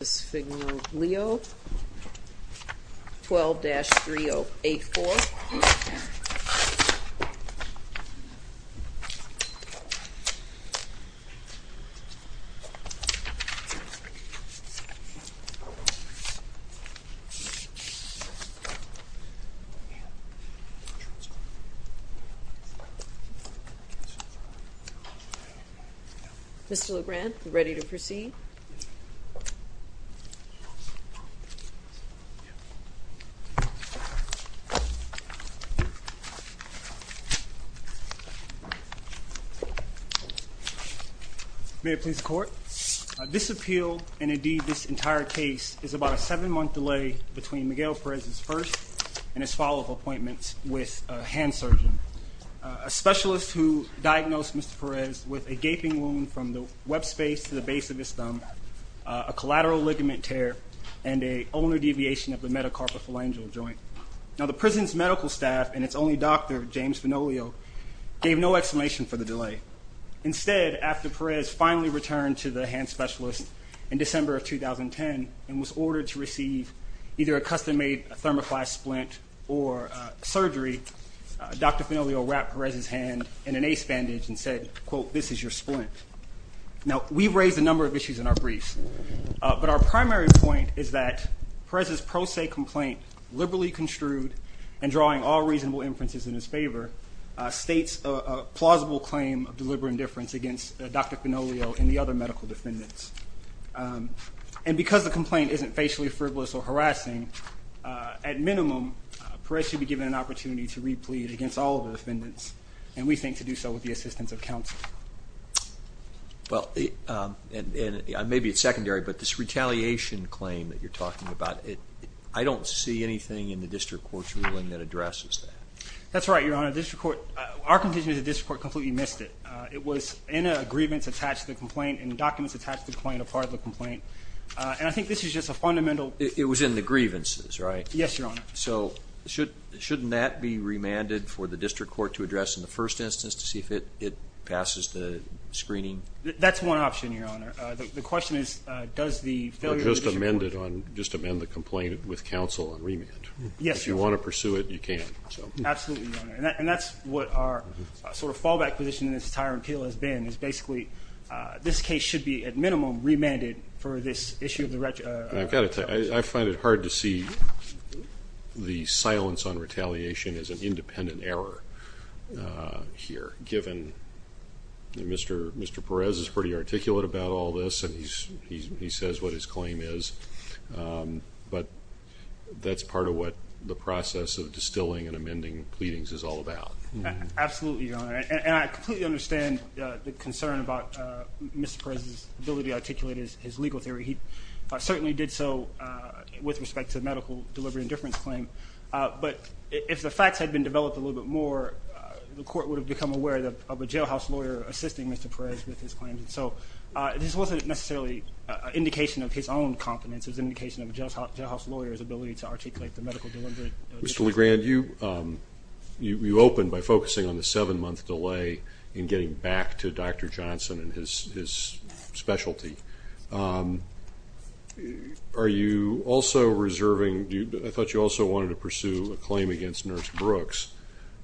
12-3084 Mr. Lebrand ready to proceed May it please the court. This appeal and indeed this entire case is about a seven month delay between Miguel Perez's first and his follow-up appointments with a hand surgeon. A specialist who diagnosed Mr. Perez with a gaping wound from the subspace to the base of his thumb, a collateral ligament tear, and a ulnar deviation of the metacarpophalangeal joint. Now the prison's medical staff and its only doctor James Fenoglio gave no explanation for the delay. Instead after Perez finally returned to the hand specialist in December of 2010 and was ordered to receive either a custom-made thermoplastic splint or surgery, Dr. Fenoglio wrapped Perez's hand in an ace bandage and said quote this is your splint. Now we've raised a number of issues in our briefs but our primary point is that Perez's pro se complaint liberally construed and drawing all reasonable inferences in his favor states a plausible claim of deliberate indifference against Dr. Fenoglio and the other medical defendants and because the complaint isn't facially frivolous or harassing at minimum Perez should be given an opportunity to replead against all the defendants and we think to do so with the assistance of counsel. Well and maybe it's secondary but this retaliation claim that you're talking about it I don't see anything in the district court's ruling that addresses that. That's right your honor district court our condition is a district court completely missed it. It was in a grievance attached to the complaint and the documents attached to the point of part of the complaint and I think this is just a fundamental. It was in the grievances right? Yes your honor. So should shouldn't that be remanded for the district court to address in the first instance to see if it it passes the screening? That's one option your honor the question is does the. Just amend it on just amend the complaint with counsel on remand. Yes. If you want to pursue it you can. Absolutely and that's what our sort of fallback position in this entire appeal has been is basically this case should be at minimum remanded for this issue of the. I've got it I find it hard to see the silence on retaliation is an independent error here given Mr. Mr. Perez is pretty articulate about all this and he's he says what his claim is but that's part of what the process of distilling and amending pleadings is all about. Absolutely your honor and I completely understand the concern about Mr. Perez's ability to articulate his legal theory. He certainly did so with respect to medical delivery indifference claim but if the facts had been developed a little bit more the court would have become aware that of a jailhouse lawyer assisting Mr. Perez with his claims and so this wasn't necessarily indication of his own competence as indication of a jailhouse lawyers ability to articulate the medical delivery. Mr. LeGrand you you opened by focusing on the seven month delay in getting back to Dr. Johnson and his specialty. Are you also reserving I thought you also wanted to pursue a claim against nurse Brooks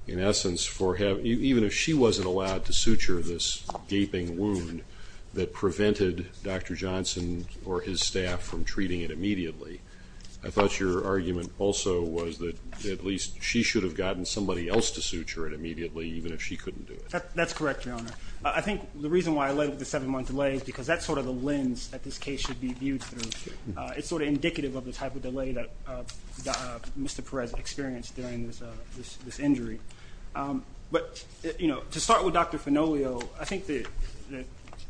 in essence for having you even if she wasn't allowed to suture this gaping wound that prevented Dr. Johnson or his staff from treating it immediately. I thought your argument also was that at least she should have gotten somebody else to suture it immediately even if she couldn't do it. That's correct your honor. I think the reason why I led with the seven month delay is because that's sort of the lens that this case should be viewed through. It's sort of indicative of the type of delay that Mr. Perez experienced during this injury but you know to start with Dr. Finolio I think the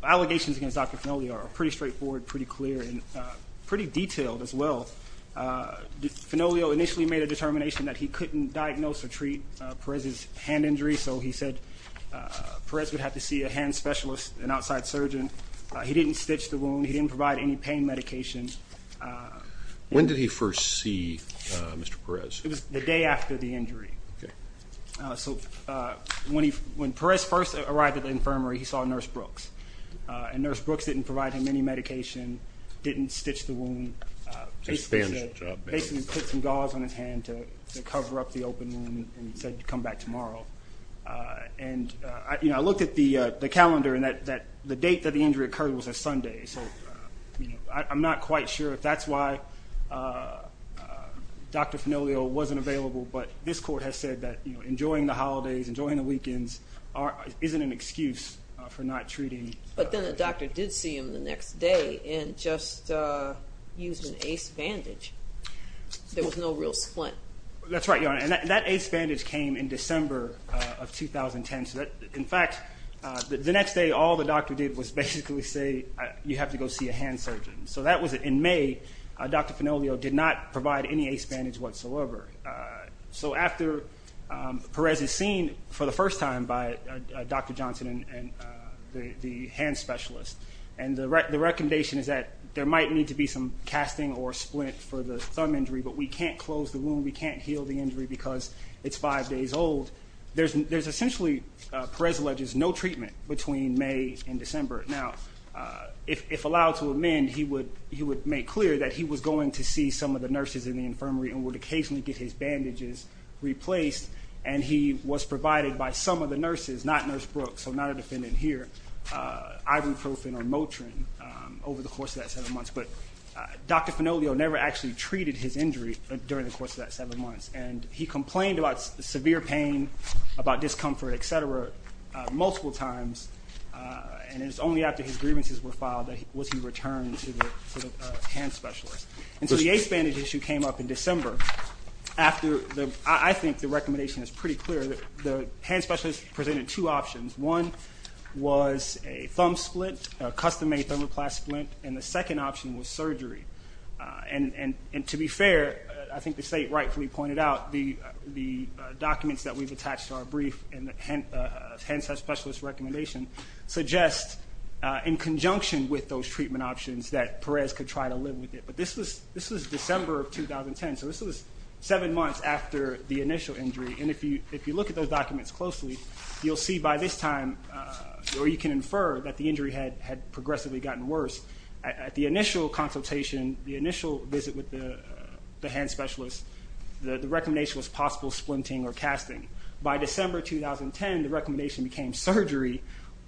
allegations against Dr. Finolio are pretty straightforward pretty clear and pretty detailed as well. Finolio initially made a determination that he said Perez would have to see a hand specialist an outside surgeon. He didn't stitch the wound. He didn't provide any pain medication. When did he first see Mr. Perez? It was the day after the injury. So when he when Perez first arrived at the infirmary he saw nurse Brooks and nurse Brooks didn't provide him any medication, didn't stitch the wound, basically put some gauze on his to cover up the open wound and said to come back tomorrow and you know I looked at the the calendar and that that the date that the injury occurred was a Sunday so I'm not quite sure if that's why Dr. Finolio wasn't available but this court has said that you know enjoying the holidays enjoying the weekends isn't an excuse for not treating. But then the doctor did see him the next day and just used an ace bandage. There was no real splint. That's right your honor and that ace bandage came in December of 2010 so that in fact the next day all the doctor did was basically say you have to go see a hand surgeon. So that was it in May Dr. Finolio did not provide any ace bandage whatsoever. So after Perez is seen for the first time by Dr. Johnson and the hand specialist and the recommendation is that there might need to be some casting or splint for the thumb injury but we can't close the wound we can't heal the injury because it's five days old. There's essentially, Perez alleges, no treatment between May and December. Now if allowed to amend he would he would make clear that he was going to see some of the nurses in the infirmary and would occasionally get his bandages replaced and he was provided by some of the nurses, not nurse Brooks, so not a defendant here, ibuprofen or Motrin over the course of that seven months. But Dr. Finolio never actually treated his injury during the course of that seven months and he complained about severe pain, about discomfort, etc. multiple times and it's only after his grievances were filed that he was he returned to the hand specialist. And so the ace bandage issue came up in December after the I think the recommendation is pretty clear that the hand specialist presented two options. One was a thumb split, a custom-made thermoplast splint, and the second option was surgery. And to be fair I think the state rightfully pointed out the the documents that we've attached to our brief and the hand specialist recommendation suggest in conjunction with those treatment options that Perez could try to live with it. But this was this was December of 2010 so this was seven months after the initial injury and if you if you look at those documents closely you'll see by this time or you can infer that the injury had had progressively gotten worse. At the initial consultation, the initial visit with the hand specialist, the recommendation was possible splinting or casting. By December 2010 the recommendation became surgery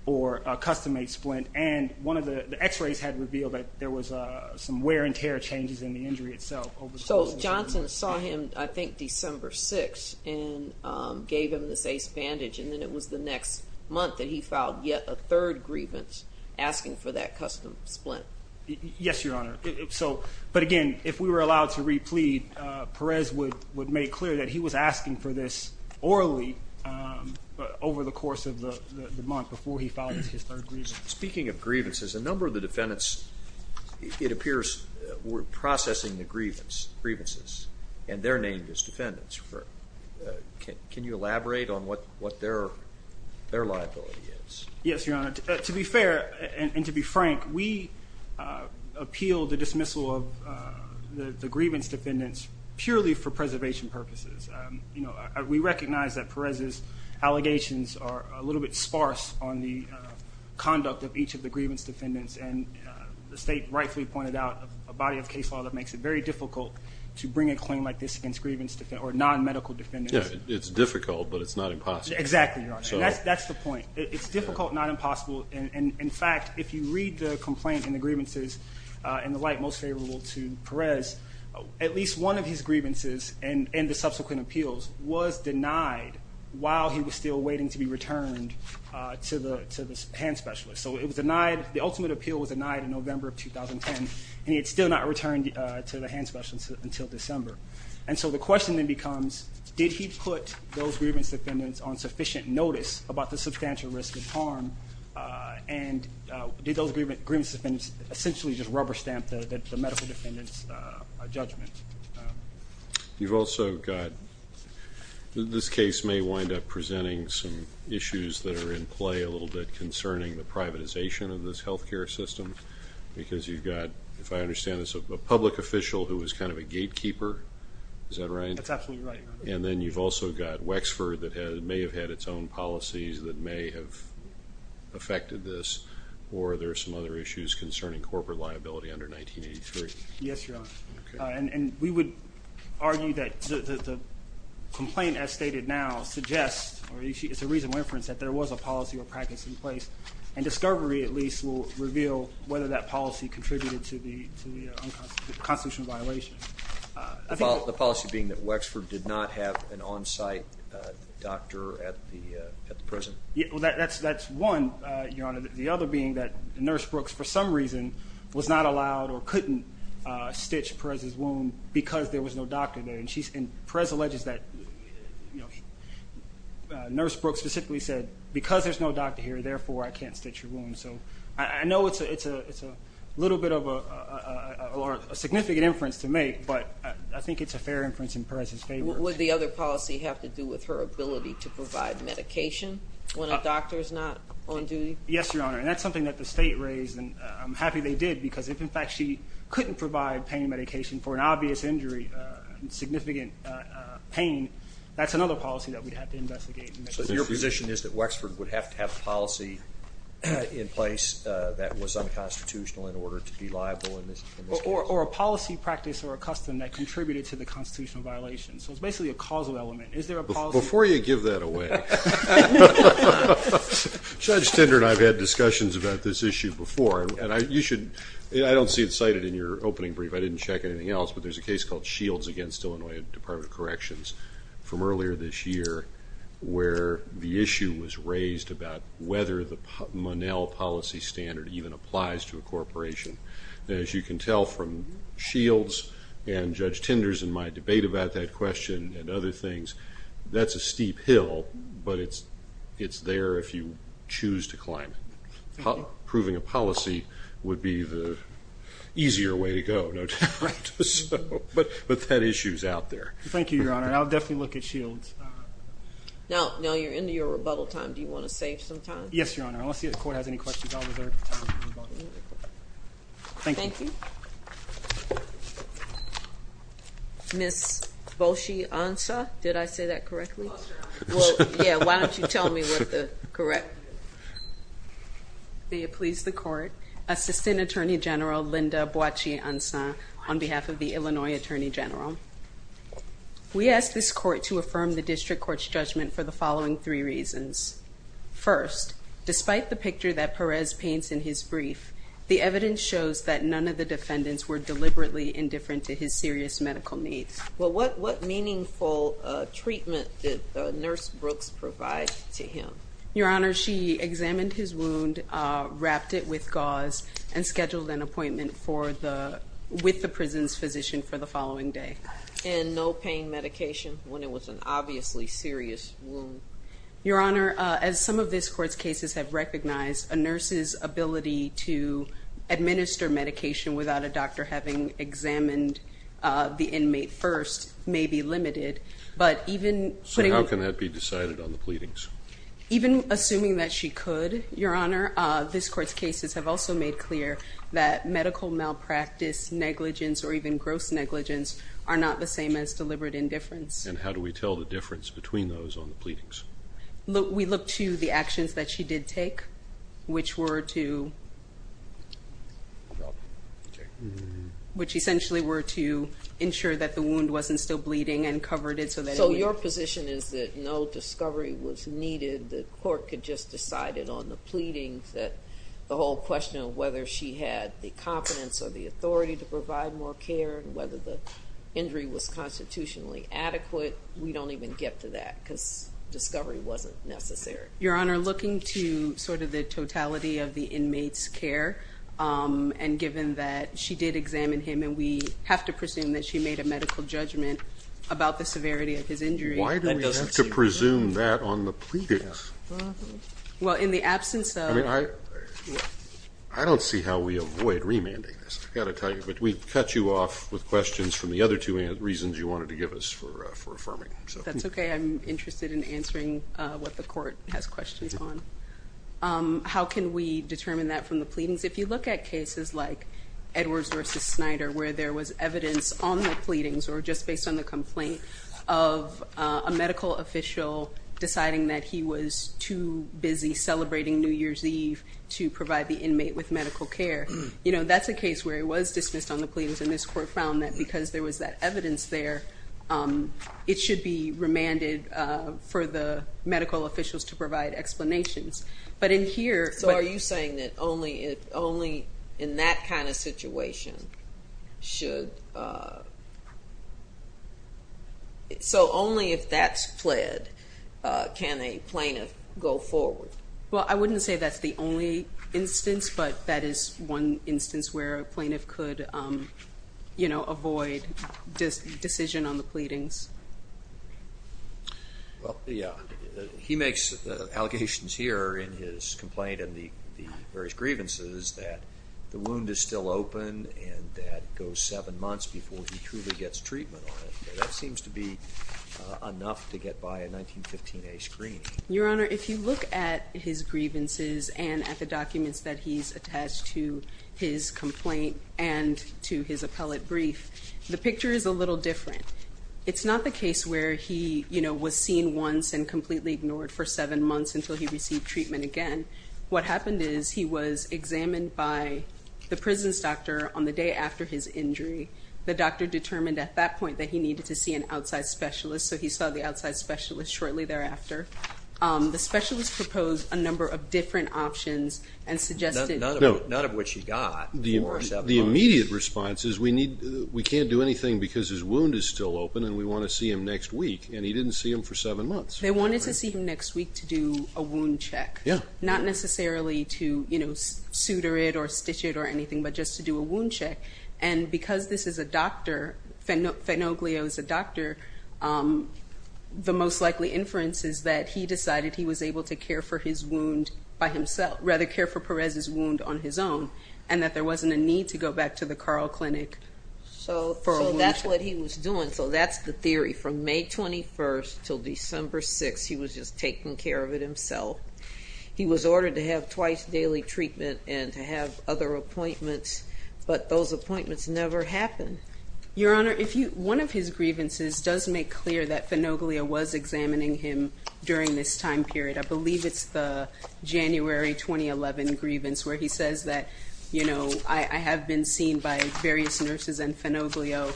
or a custom-made splint and one of the x-rays had revealed that there was a some wear and tear changes in the injury itself. So Johnson saw him I think December 6th and gave him this ace bandage and then it was the next month that he filed yet a third grievance asking for that custom splint. Yes your honor so but again if we were allowed to replead Perez would would make clear that he was asking for this orally over the course of the month before he filed his third grievance. Speaking of grievances, a number of the defendants it appears were processing the grievances and they're named as defendants. Can you elaborate on what what their their liability is? Yes your honor to be fair and to be frank we appealed the dismissal of the grievance defendants purely for preservation purposes. You know we recognize that Perez's allegations are a little bit of each of the grievance defendants and the state rightfully pointed out a body of case law that makes it very difficult to bring a claim like this against grievance defense or non-medical defendants. Yeah it's difficult but it's not impossible. Exactly your honor that's that's the point it's difficult not impossible and in fact if you read the complaint and the grievances in the light most favorable to Perez at least one of his grievances and in the subsequent appeals was denied while he was still waiting to be returned to the hand specialist. So it was denied the ultimate appeal was denied in November of 2010 and he had still not returned to the hand specialist until December and so the question then becomes did he put those grievance defendants on sufficient notice about the substantial risk of harm and did those grievance defendants essentially just rubber stamp the medical defendants judgment. You've also got this case may wind up presenting some issues that are in play a little bit concerning the privatization of this health care system because you've got if I understand this a public official who was kind of a gatekeeper is that right? That's absolutely right. And then you've also got Wexford that has may have had its own policies that may have affected this or there are some other issues concerning corporate liability under 1983. Yes your honor and we would argue that the complaint as stated now suggests or it's a reason that there was a policy or practice in place and discovery at least will reveal whether that policy contributed to the constitutional violation. The policy being that Wexford did not have an on-site doctor at the prison. Yeah well that's that's one your honor the other being that nurse Brooks for some reason was not allowed or couldn't stitch Perez's wound because there was no doctor there and she's in Perez alleges that nurse Brooks specifically said because there's no doctor here therefore I can't stitch your wound so I know it's a it's a it's a little bit of a significant inference to make but I think it's a fair inference in Perez's favor. Would the other policy have to do with her ability to provide medication when a doctor is not on duty? Yes your honor and that's something that the state raised and I'm happy they did because if in providing pain medication for an obvious injury significant pain that's another policy that we have to investigate. So your position is that Wexford would have to have policy in place that was unconstitutional in order to be liable? Or a policy practice or a custom that contributed to the constitutional violation so it's basically a causal element. Before you give that away, Judge Tinder and I've had discussions about this issue before and you should I don't see it cited in your opening brief I didn't check anything else but there's a case called Shields against Illinois Department of Corrections from earlier this year where the issue was raised about whether the Monell policy standard even applies to a corporation. As you can tell from Shields and Judge Tinders and my debate about that question and other things that's a would be the easier way to go. But that issue's out there. Thank you your honor I'll definitely look at Shields. Now you're into your rebuttal time do you want to save some time? Yes your honor unless the court has any questions I'll reserve the time for rebuttal. Thank you. Ms. Bochy-Ansah did I say that correctly? Yeah why don't you tell me what the correct... May it please the court, Assistant Attorney General Linda Bochy-Ansah on behalf of the Illinois Attorney General. We asked this court to affirm the district court's judgment for the following three reasons. First, despite the picture that Perez paints in his brief the evidence shows that none of the defendants were deliberately indifferent to his serious medical needs. Well what what meaningful treatment did the nurse Brooks provide to him? Your honor she examined his wound wrapped it with gauze and scheduled an appointment for the with the prison's physician for the following day. And no pain medication when it was an obviously serious wound? Your honor as some of this court's cases have recognized a nurse's ability to administer medication without a doctor having examined the inmate first may be limited but even... So how can that be decided on the pleadings? Even assuming that she could your honor this court's cases have also made clear that medical malpractice negligence or even gross negligence are not the same as deliberate indifference. And how do we tell the difference between those on the pleadings? We look to the actions that she did take which were to which essentially were to ensure that the wound wasn't still bleeding and covered it. So your position is that no discovery was needed the court could just decide it on the pleadings that the whole question of whether she had the confidence or the authority to provide more care whether the injury was constitutionally adequate we don't even get to that because discovery wasn't necessary. Your honor looking to sort of the totality of the inmates care and given that she did examine him and we have to presume that she made a medical judgment about the severity of his injury. Why do we have to presume that on the pleadings? Well in the absence of... I mean I I don't see how we avoid remanding this I gotta tell you but we cut you off with questions from the other two reasons you wanted to give us for affirming. That's okay I'm interested in answering what the court has questions on. How can we determine that from the pleadings? If you look at cases like Edwards versus Snyder where there was evidence on the pleadings or just based on the complaint of a medical official deciding that he was too busy celebrating New Year's Eve to provide the inmate with medical care. You know that's a case where it was dismissed on the pleadings and this evidence there it should be remanded for the medical officials to provide explanations but in here... So are you saying that only it only in that kind of situation should... so only if that's pled can a plaintiff go forward? Well I wouldn't say that's the only instance but that is one instance where a decision on the pleadings. Well yeah he makes allegations here in his complaint and the various grievances that the wound is still open and that goes seven months before he truly gets treatment on it. That seems to be enough to get by a 1915a screening. Your Honor if you look at his grievances and at the documents that he's attached to his complaint and to his appellate brief the picture is a little different. It's not the case where he you know was seen once and completely ignored for seven months until he received treatment again. What happened is he was examined by the prison's doctor on the day after his injury. The doctor determined at that point that he needed to see an outside specialist so he saw the outside specialist shortly thereafter. The specialist proposed a number of different options and suggested... None of which he wound is still open and we want to see him next week and he didn't see him for seven months. They wanted to see him next week to do a wound check. Yeah. Not necessarily to you know suture it or stitch it or anything but just to do a wound check and because this is a doctor, Fenoglio is a doctor, the most likely inference is that he decided he was able to care for his wound by himself rather care for Perez's wound on his own and that there wasn't a need to go back to the Carl Clinic. So that's what he was doing so that's the theory from May 21st till December 6th he was just taking care of it himself. He was ordered to have twice daily treatment and to have other appointments but those appointments never happened. Your Honor if you one of his grievances does make clear that Fenoglio was examining him during this time period. I believe it's the January 2011 grievance where he says that you know I have been seen by various nurses and Fenoglio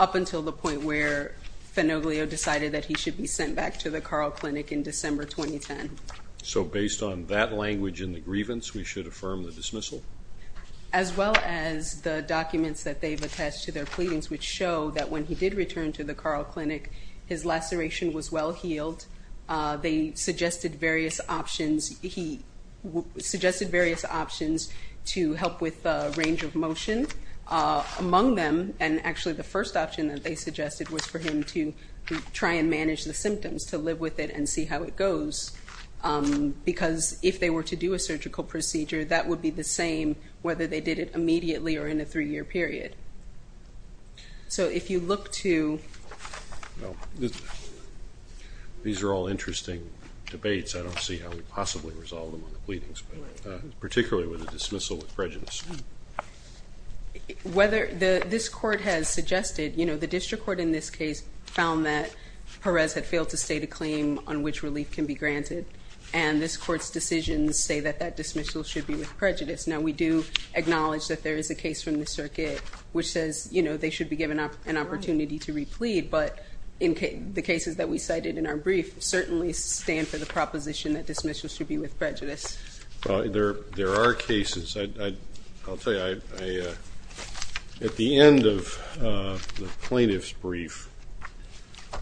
up until the point where Fenoglio decided that he should be sent back to the Carl Clinic in December 2010. So based on that language in the grievance we should affirm the dismissal? As well as the documents that they've attest to their pleadings which show that when he did return to the Carl Clinic his laceration was well healed. They suggested various options he suggested various options to help with the range of motion among them and actually the first option that they suggested was for him to try and manage the symptoms to live with it and see how it goes because if they were to do a surgical procedure that would be the same whether they did it immediately or in a three-year period. So if you look to... These are all interesting debates I don't see how we possibly resolve them on the pleadings but particularly with a dismissal with prejudice. Whether the this court has suggested you know the district court in this case found that Perez had failed to state a claim on which relief can be granted and this court's decisions say that that dismissal should be with prejudice. Now we do acknowledge that there is a case from the circuit which says you know they should be given up an opportunity to replead but in the cases that we cited in our brief certainly stand for the proposition that dismissal should be with prejudice. There there are cases I'll tell you I at the end of the plaintiff's brief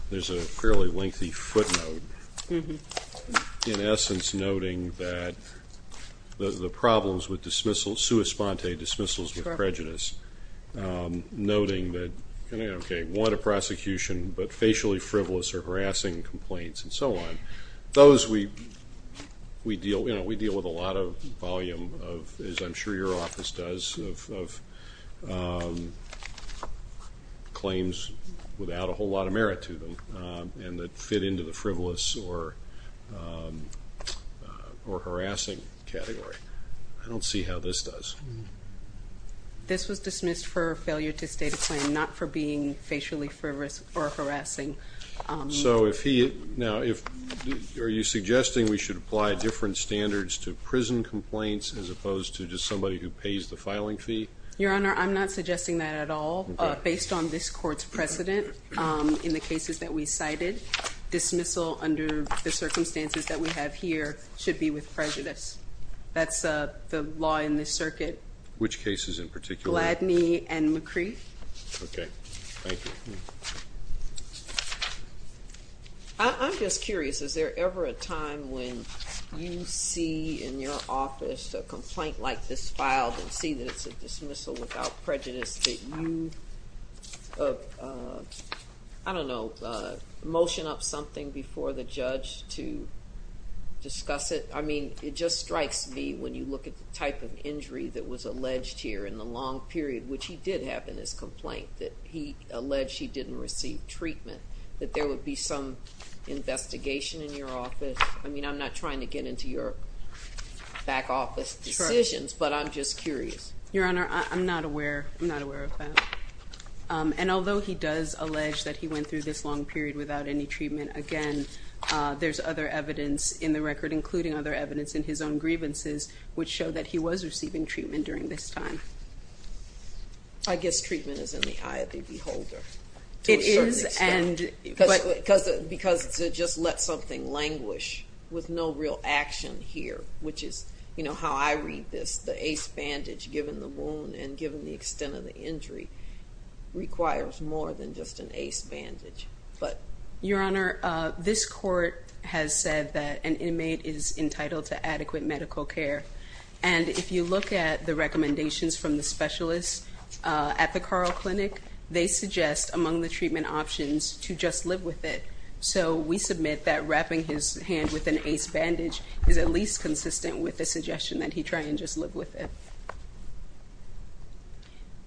there's a fairly lengthy footnote in essence noting that the problems with dismissal sua sponte dismissals with prejudice noting that okay want a prosecution but those we deal with a lot of volume of as I'm sure your office does of claims without a whole lot of merit to them and that fit into the frivolous or harassing category. I don't see how this does. This was dismissed for failure to state a claim not for being facially frivolous or harassing. So if he now if are you suggesting we should apply different standards to prison complaints as opposed to just somebody who pays the filing fee? Your Honor I'm not suggesting that at all based on this court's precedent in the cases that we cited dismissal under the circumstances that we have here should be with prejudice. That's the law in this circuit. Which cases in particular? Gladney and I'm just curious is there ever a time when you see in your office a complaint like this filed and see that it's a dismissal without prejudice that you I don't know motion up something before the judge to discuss it. I mean it just strikes me when you look at the type of injury that was alleged here in the long period which he did have in his complaint that he alleged she didn't receive treatment that there would be some investigation in your office. I mean I'm not trying to get into your back office decisions but I'm just curious. Your Honor I'm not aware I'm not aware of that and although he does allege that he went through this long period without any treatment again there's other evidence in the record including other evidence in his own grievances which show that he was receiving treatment during this time. I guess treatment is in the eye of the beholder. It is and because because to just let something languish with no real action here which is you know how I read this the ace bandage given the wound and given the extent of the injury requires more than just an ace bandage but. Your Honor this court has said that an inmate is entitled to adequate medical care and if you look at the recommendations from the specialists at the Carl Clinic they suggest among the treatment options to just live with it. So we submit that wrapping his hand with an ace bandage is at least consistent with the suggestion that he try and just live with it.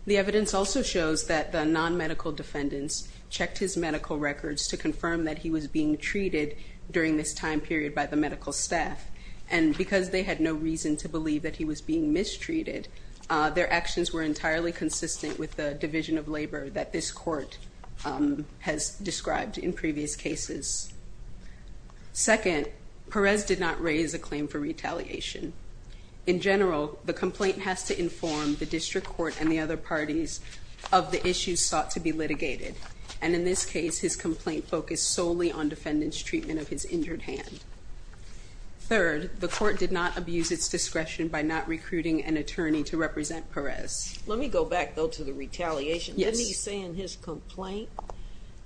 The evidence also shows that the non-medical defendants checked his medical records to confirm that he was being treated during this time period by the medical staff and because they had no reason to believe that he was being mistreated their actions were entirely consistent with the division of labor that this court has described in previous cases. Second Perez did not raise a claim for retaliation. In general the complaint has to inform the district court and the other parties of the issues sought to be litigated and in this case his complaint focused solely on defendants treatment of his injured hand. Third the court did abuse its discretion by not recruiting an attorney to represent Perez. Let me go back though to the retaliation. Didn't he say in his complaint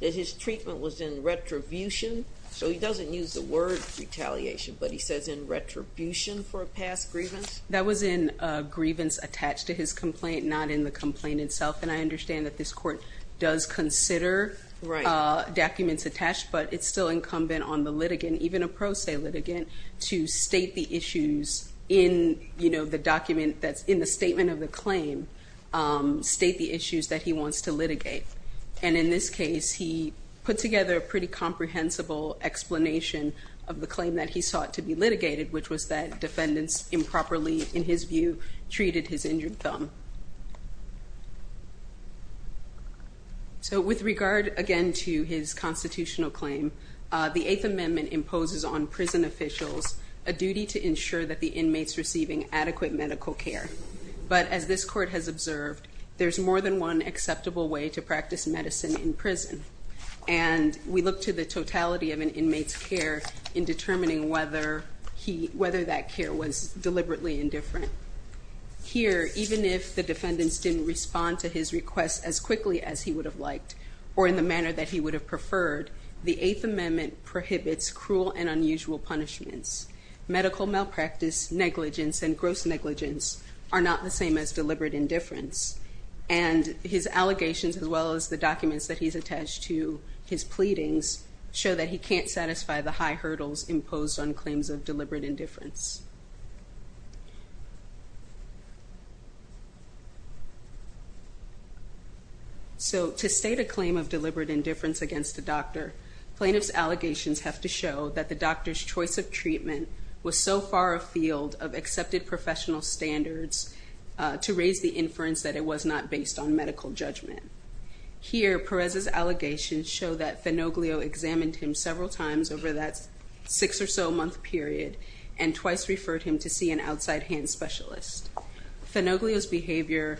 that his treatment was in retribution so he doesn't use the word retaliation but he says in retribution for a past grievance? That was in a grievance attached to his complaint not in the complaint itself and I understand that this court does consider documents attached but it's still incumbent on the litigant even a pro se litigant to state the issues in you know the document that's in the statement of the claim state the issues that he wants to litigate and in this case he put together a pretty comprehensible explanation of the claim that he sought to be litigated which was that defendants improperly in his view treated his injured thumb. So with regard again to his constitutional claim the to ensure that the inmates receiving adequate medical care but as this court has observed there's more than one acceptable way to practice medicine in prison and we look to the totality of an inmate's care in determining whether he whether that care was deliberately indifferent. Here even if the defendants didn't respond to his requests as quickly as he would have liked or in the manner that he would have preferred the Eighth Amendment prohibits cruel and medical malpractice negligence and gross negligence are not the same as deliberate indifference and his allegations as well as the documents that he's attached to his pleadings show that he can't satisfy the high hurdles imposed on claims of deliberate indifference. So to state a claim of deliberate indifference against the doctor plaintiffs allegations have to show that the doctor's choice of treatment was so far afield of accepted professional standards to raise the inference that it was not based on medical judgment. Here Perez's allegations show that Fenoglio examined him several times over that six or so month period and twice referred him to see an outside hand specialist. Fenoglio's behavior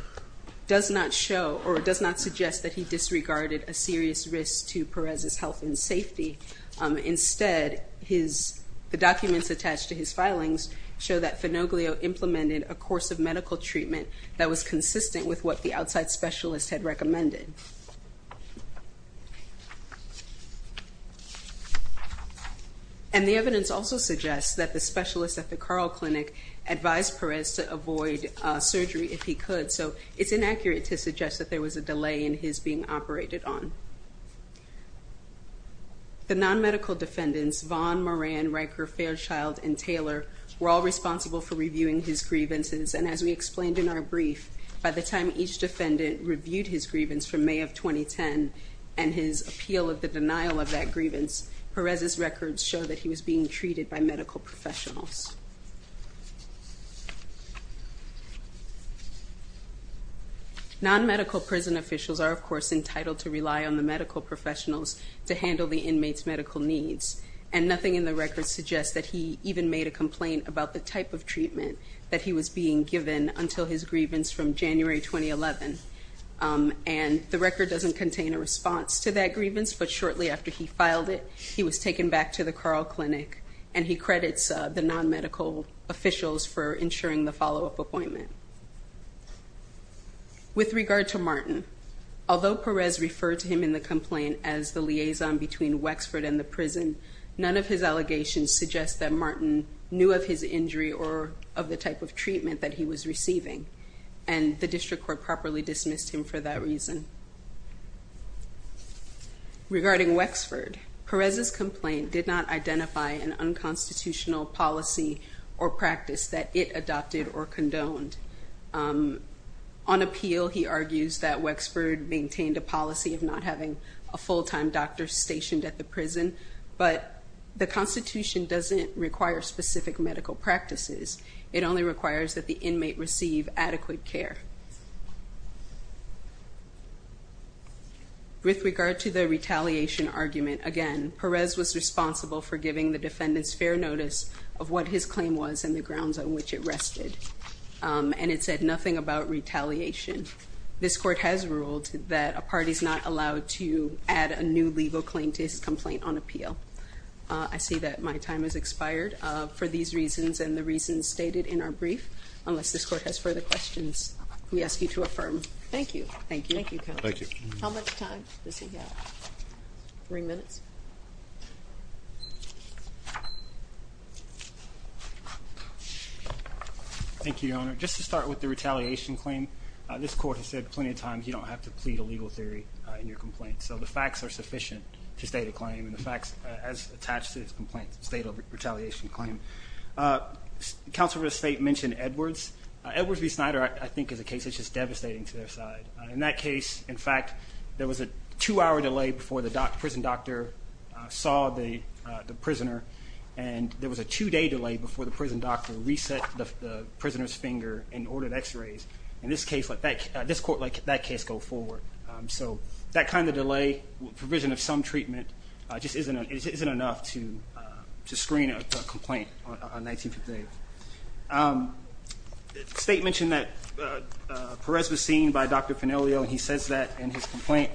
does not show or does not suggest that he disregarded a serious risk to Perez's health and safety. Instead his the documents attached to his filings show that Fenoglio implemented a course of medical treatment that was consistent with what the outside specialist had recommended. And the evidence also suggests that the specialist at the Carl Clinic advised Perez to avoid surgery if he could so it's inaccurate to suggest that there was a delay in his being operated on. The non-medical defendants Vaughn, Moran, Riker, Fairchild, and Taylor were all responsible for reviewing his grievances and as we explained in our brief by the time each defendant reviewed his grievance from May of 2010 and his appeal of the denial of that grievance Perez's records show that he was being treated by medical professionals. Non-medical prison officials are of course entitled to rely on the medical professionals to handle the inmates medical needs and nothing in the record suggests that he even made a complaint about the type of treatment that he was being given until his grievance from January 2011 and the record doesn't contain a response to that grievance but shortly after he filed it he was taken back to the Carl Clinic and he credits the non-medical officials for ensuring the follow-up appointment. With regard to Martin although Perez referred to him in the complaint as the liaison between Wexford and the prison none of his allegations suggest that Martin knew of his injury or of the type of treatment that he was receiving and the district court properly dismissed him for that Regarding Wexford, Perez's complaint did not identify an unconstitutional policy or practice that it adopted or condoned. On appeal he argues that Wexford maintained a policy of not having a full-time doctor stationed at the prison but the Constitution doesn't require specific medical practices it only requires that the inmate receive adequate care. With regard to the retaliation argument again Perez was responsible for giving the defendants fair notice of what his claim was and the grounds on which it rested and it said nothing about retaliation. This court has ruled that a party is not allowed to add a new legal claim to his complaint on appeal. I see that my time has expired for these reasons and the reasons stated in our questions we ask you to affirm. Thank you. Thank you. Thank you. How much time does he have? Three minutes. Thank you Your Honor. Just to start with the retaliation claim this court has said plenty of times you don't have to plead a legal theory in your complaint so the facts are sufficient to state a claim and the facts as attached to this complaint state of retaliation claim. Counselor of the State mentioned Edwards. Edwards v. Snyder I think is a case that's just devastating to their side. In that case in fact there was a two-hour delay before the prison doctor saw the prisoner and there was a two-day delay before the prison doctor reset the prisoner's finger and ordered x-rays. In this case this court let that case go forward so that kind of delay provision of some treatment just isn't enough to screen a complaint on 1958. State mentioned that Perez was seen by Dr. Faniglio and he says that in his complaint.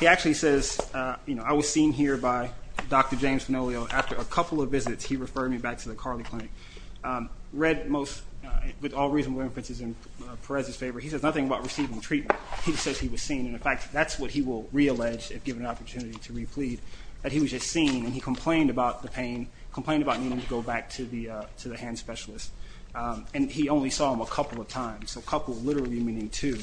He actually says you know I was seen here by Dr. James Faniglio after a couple of visits he referred me back to the Carley Clinic. Read most with all reasonable inferences in Perez's favor he says nothing about receiving treatment. He just says he was seen and in fact that's what he will re-allege if given an opportunity to re-plead that he was just seen and he complained about the pain complained about needing to go back to the to the hand specialist and he only saw him a couple of times so a couple literally meaning two.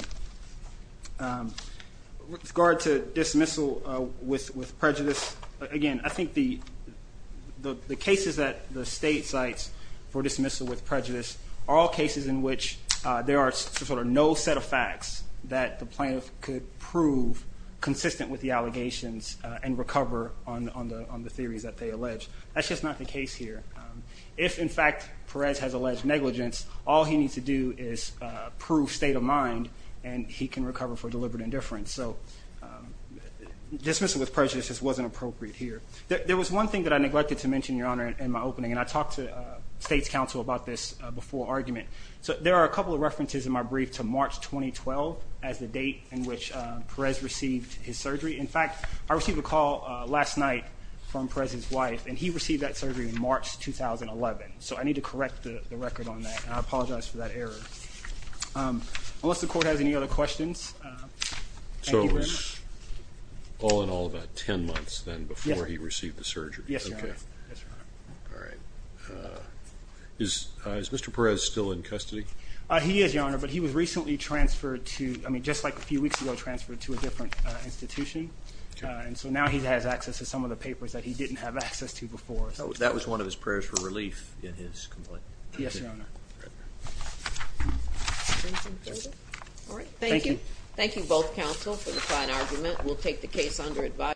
With regard to dismissal with prejudice again I think the the cases that the state cites for dismissal with prejudice are all cases in which there are sort of no set of facts that the plaintiff could prove consistent with the allegations and recover on the theories that they allege. That's just not the case here. If in fact Perez has alleged negligence all he needs to do is prove state of mind and he can recover for deliberate indifference. So dismissal with prejudice just wasn't appropriate here. There was one thing that I neglected to mention your honor in my opening and I talked to State's counsel about this before argument. So there are a couple of his surgery. In fact I received a call last night from Perez's wife and he received that surgery in March 2011. So I need to correct the record on that. I apologize for that error. Unless the court has any other questions. So it was all in all about ten months then before he received the surgery. Yes. Is Mr. Perez still in custody? He is your honor but he was recently transferred to I mean just like a few weeks ago transferred to a different institution. And so now he has access to some of the papers that he didn't have access to before. So that was one of his prayers for relief in his complaint. Yes your honor. All right. Thank you. Thank you both counsel for the fine argument. We'll take the case under advice.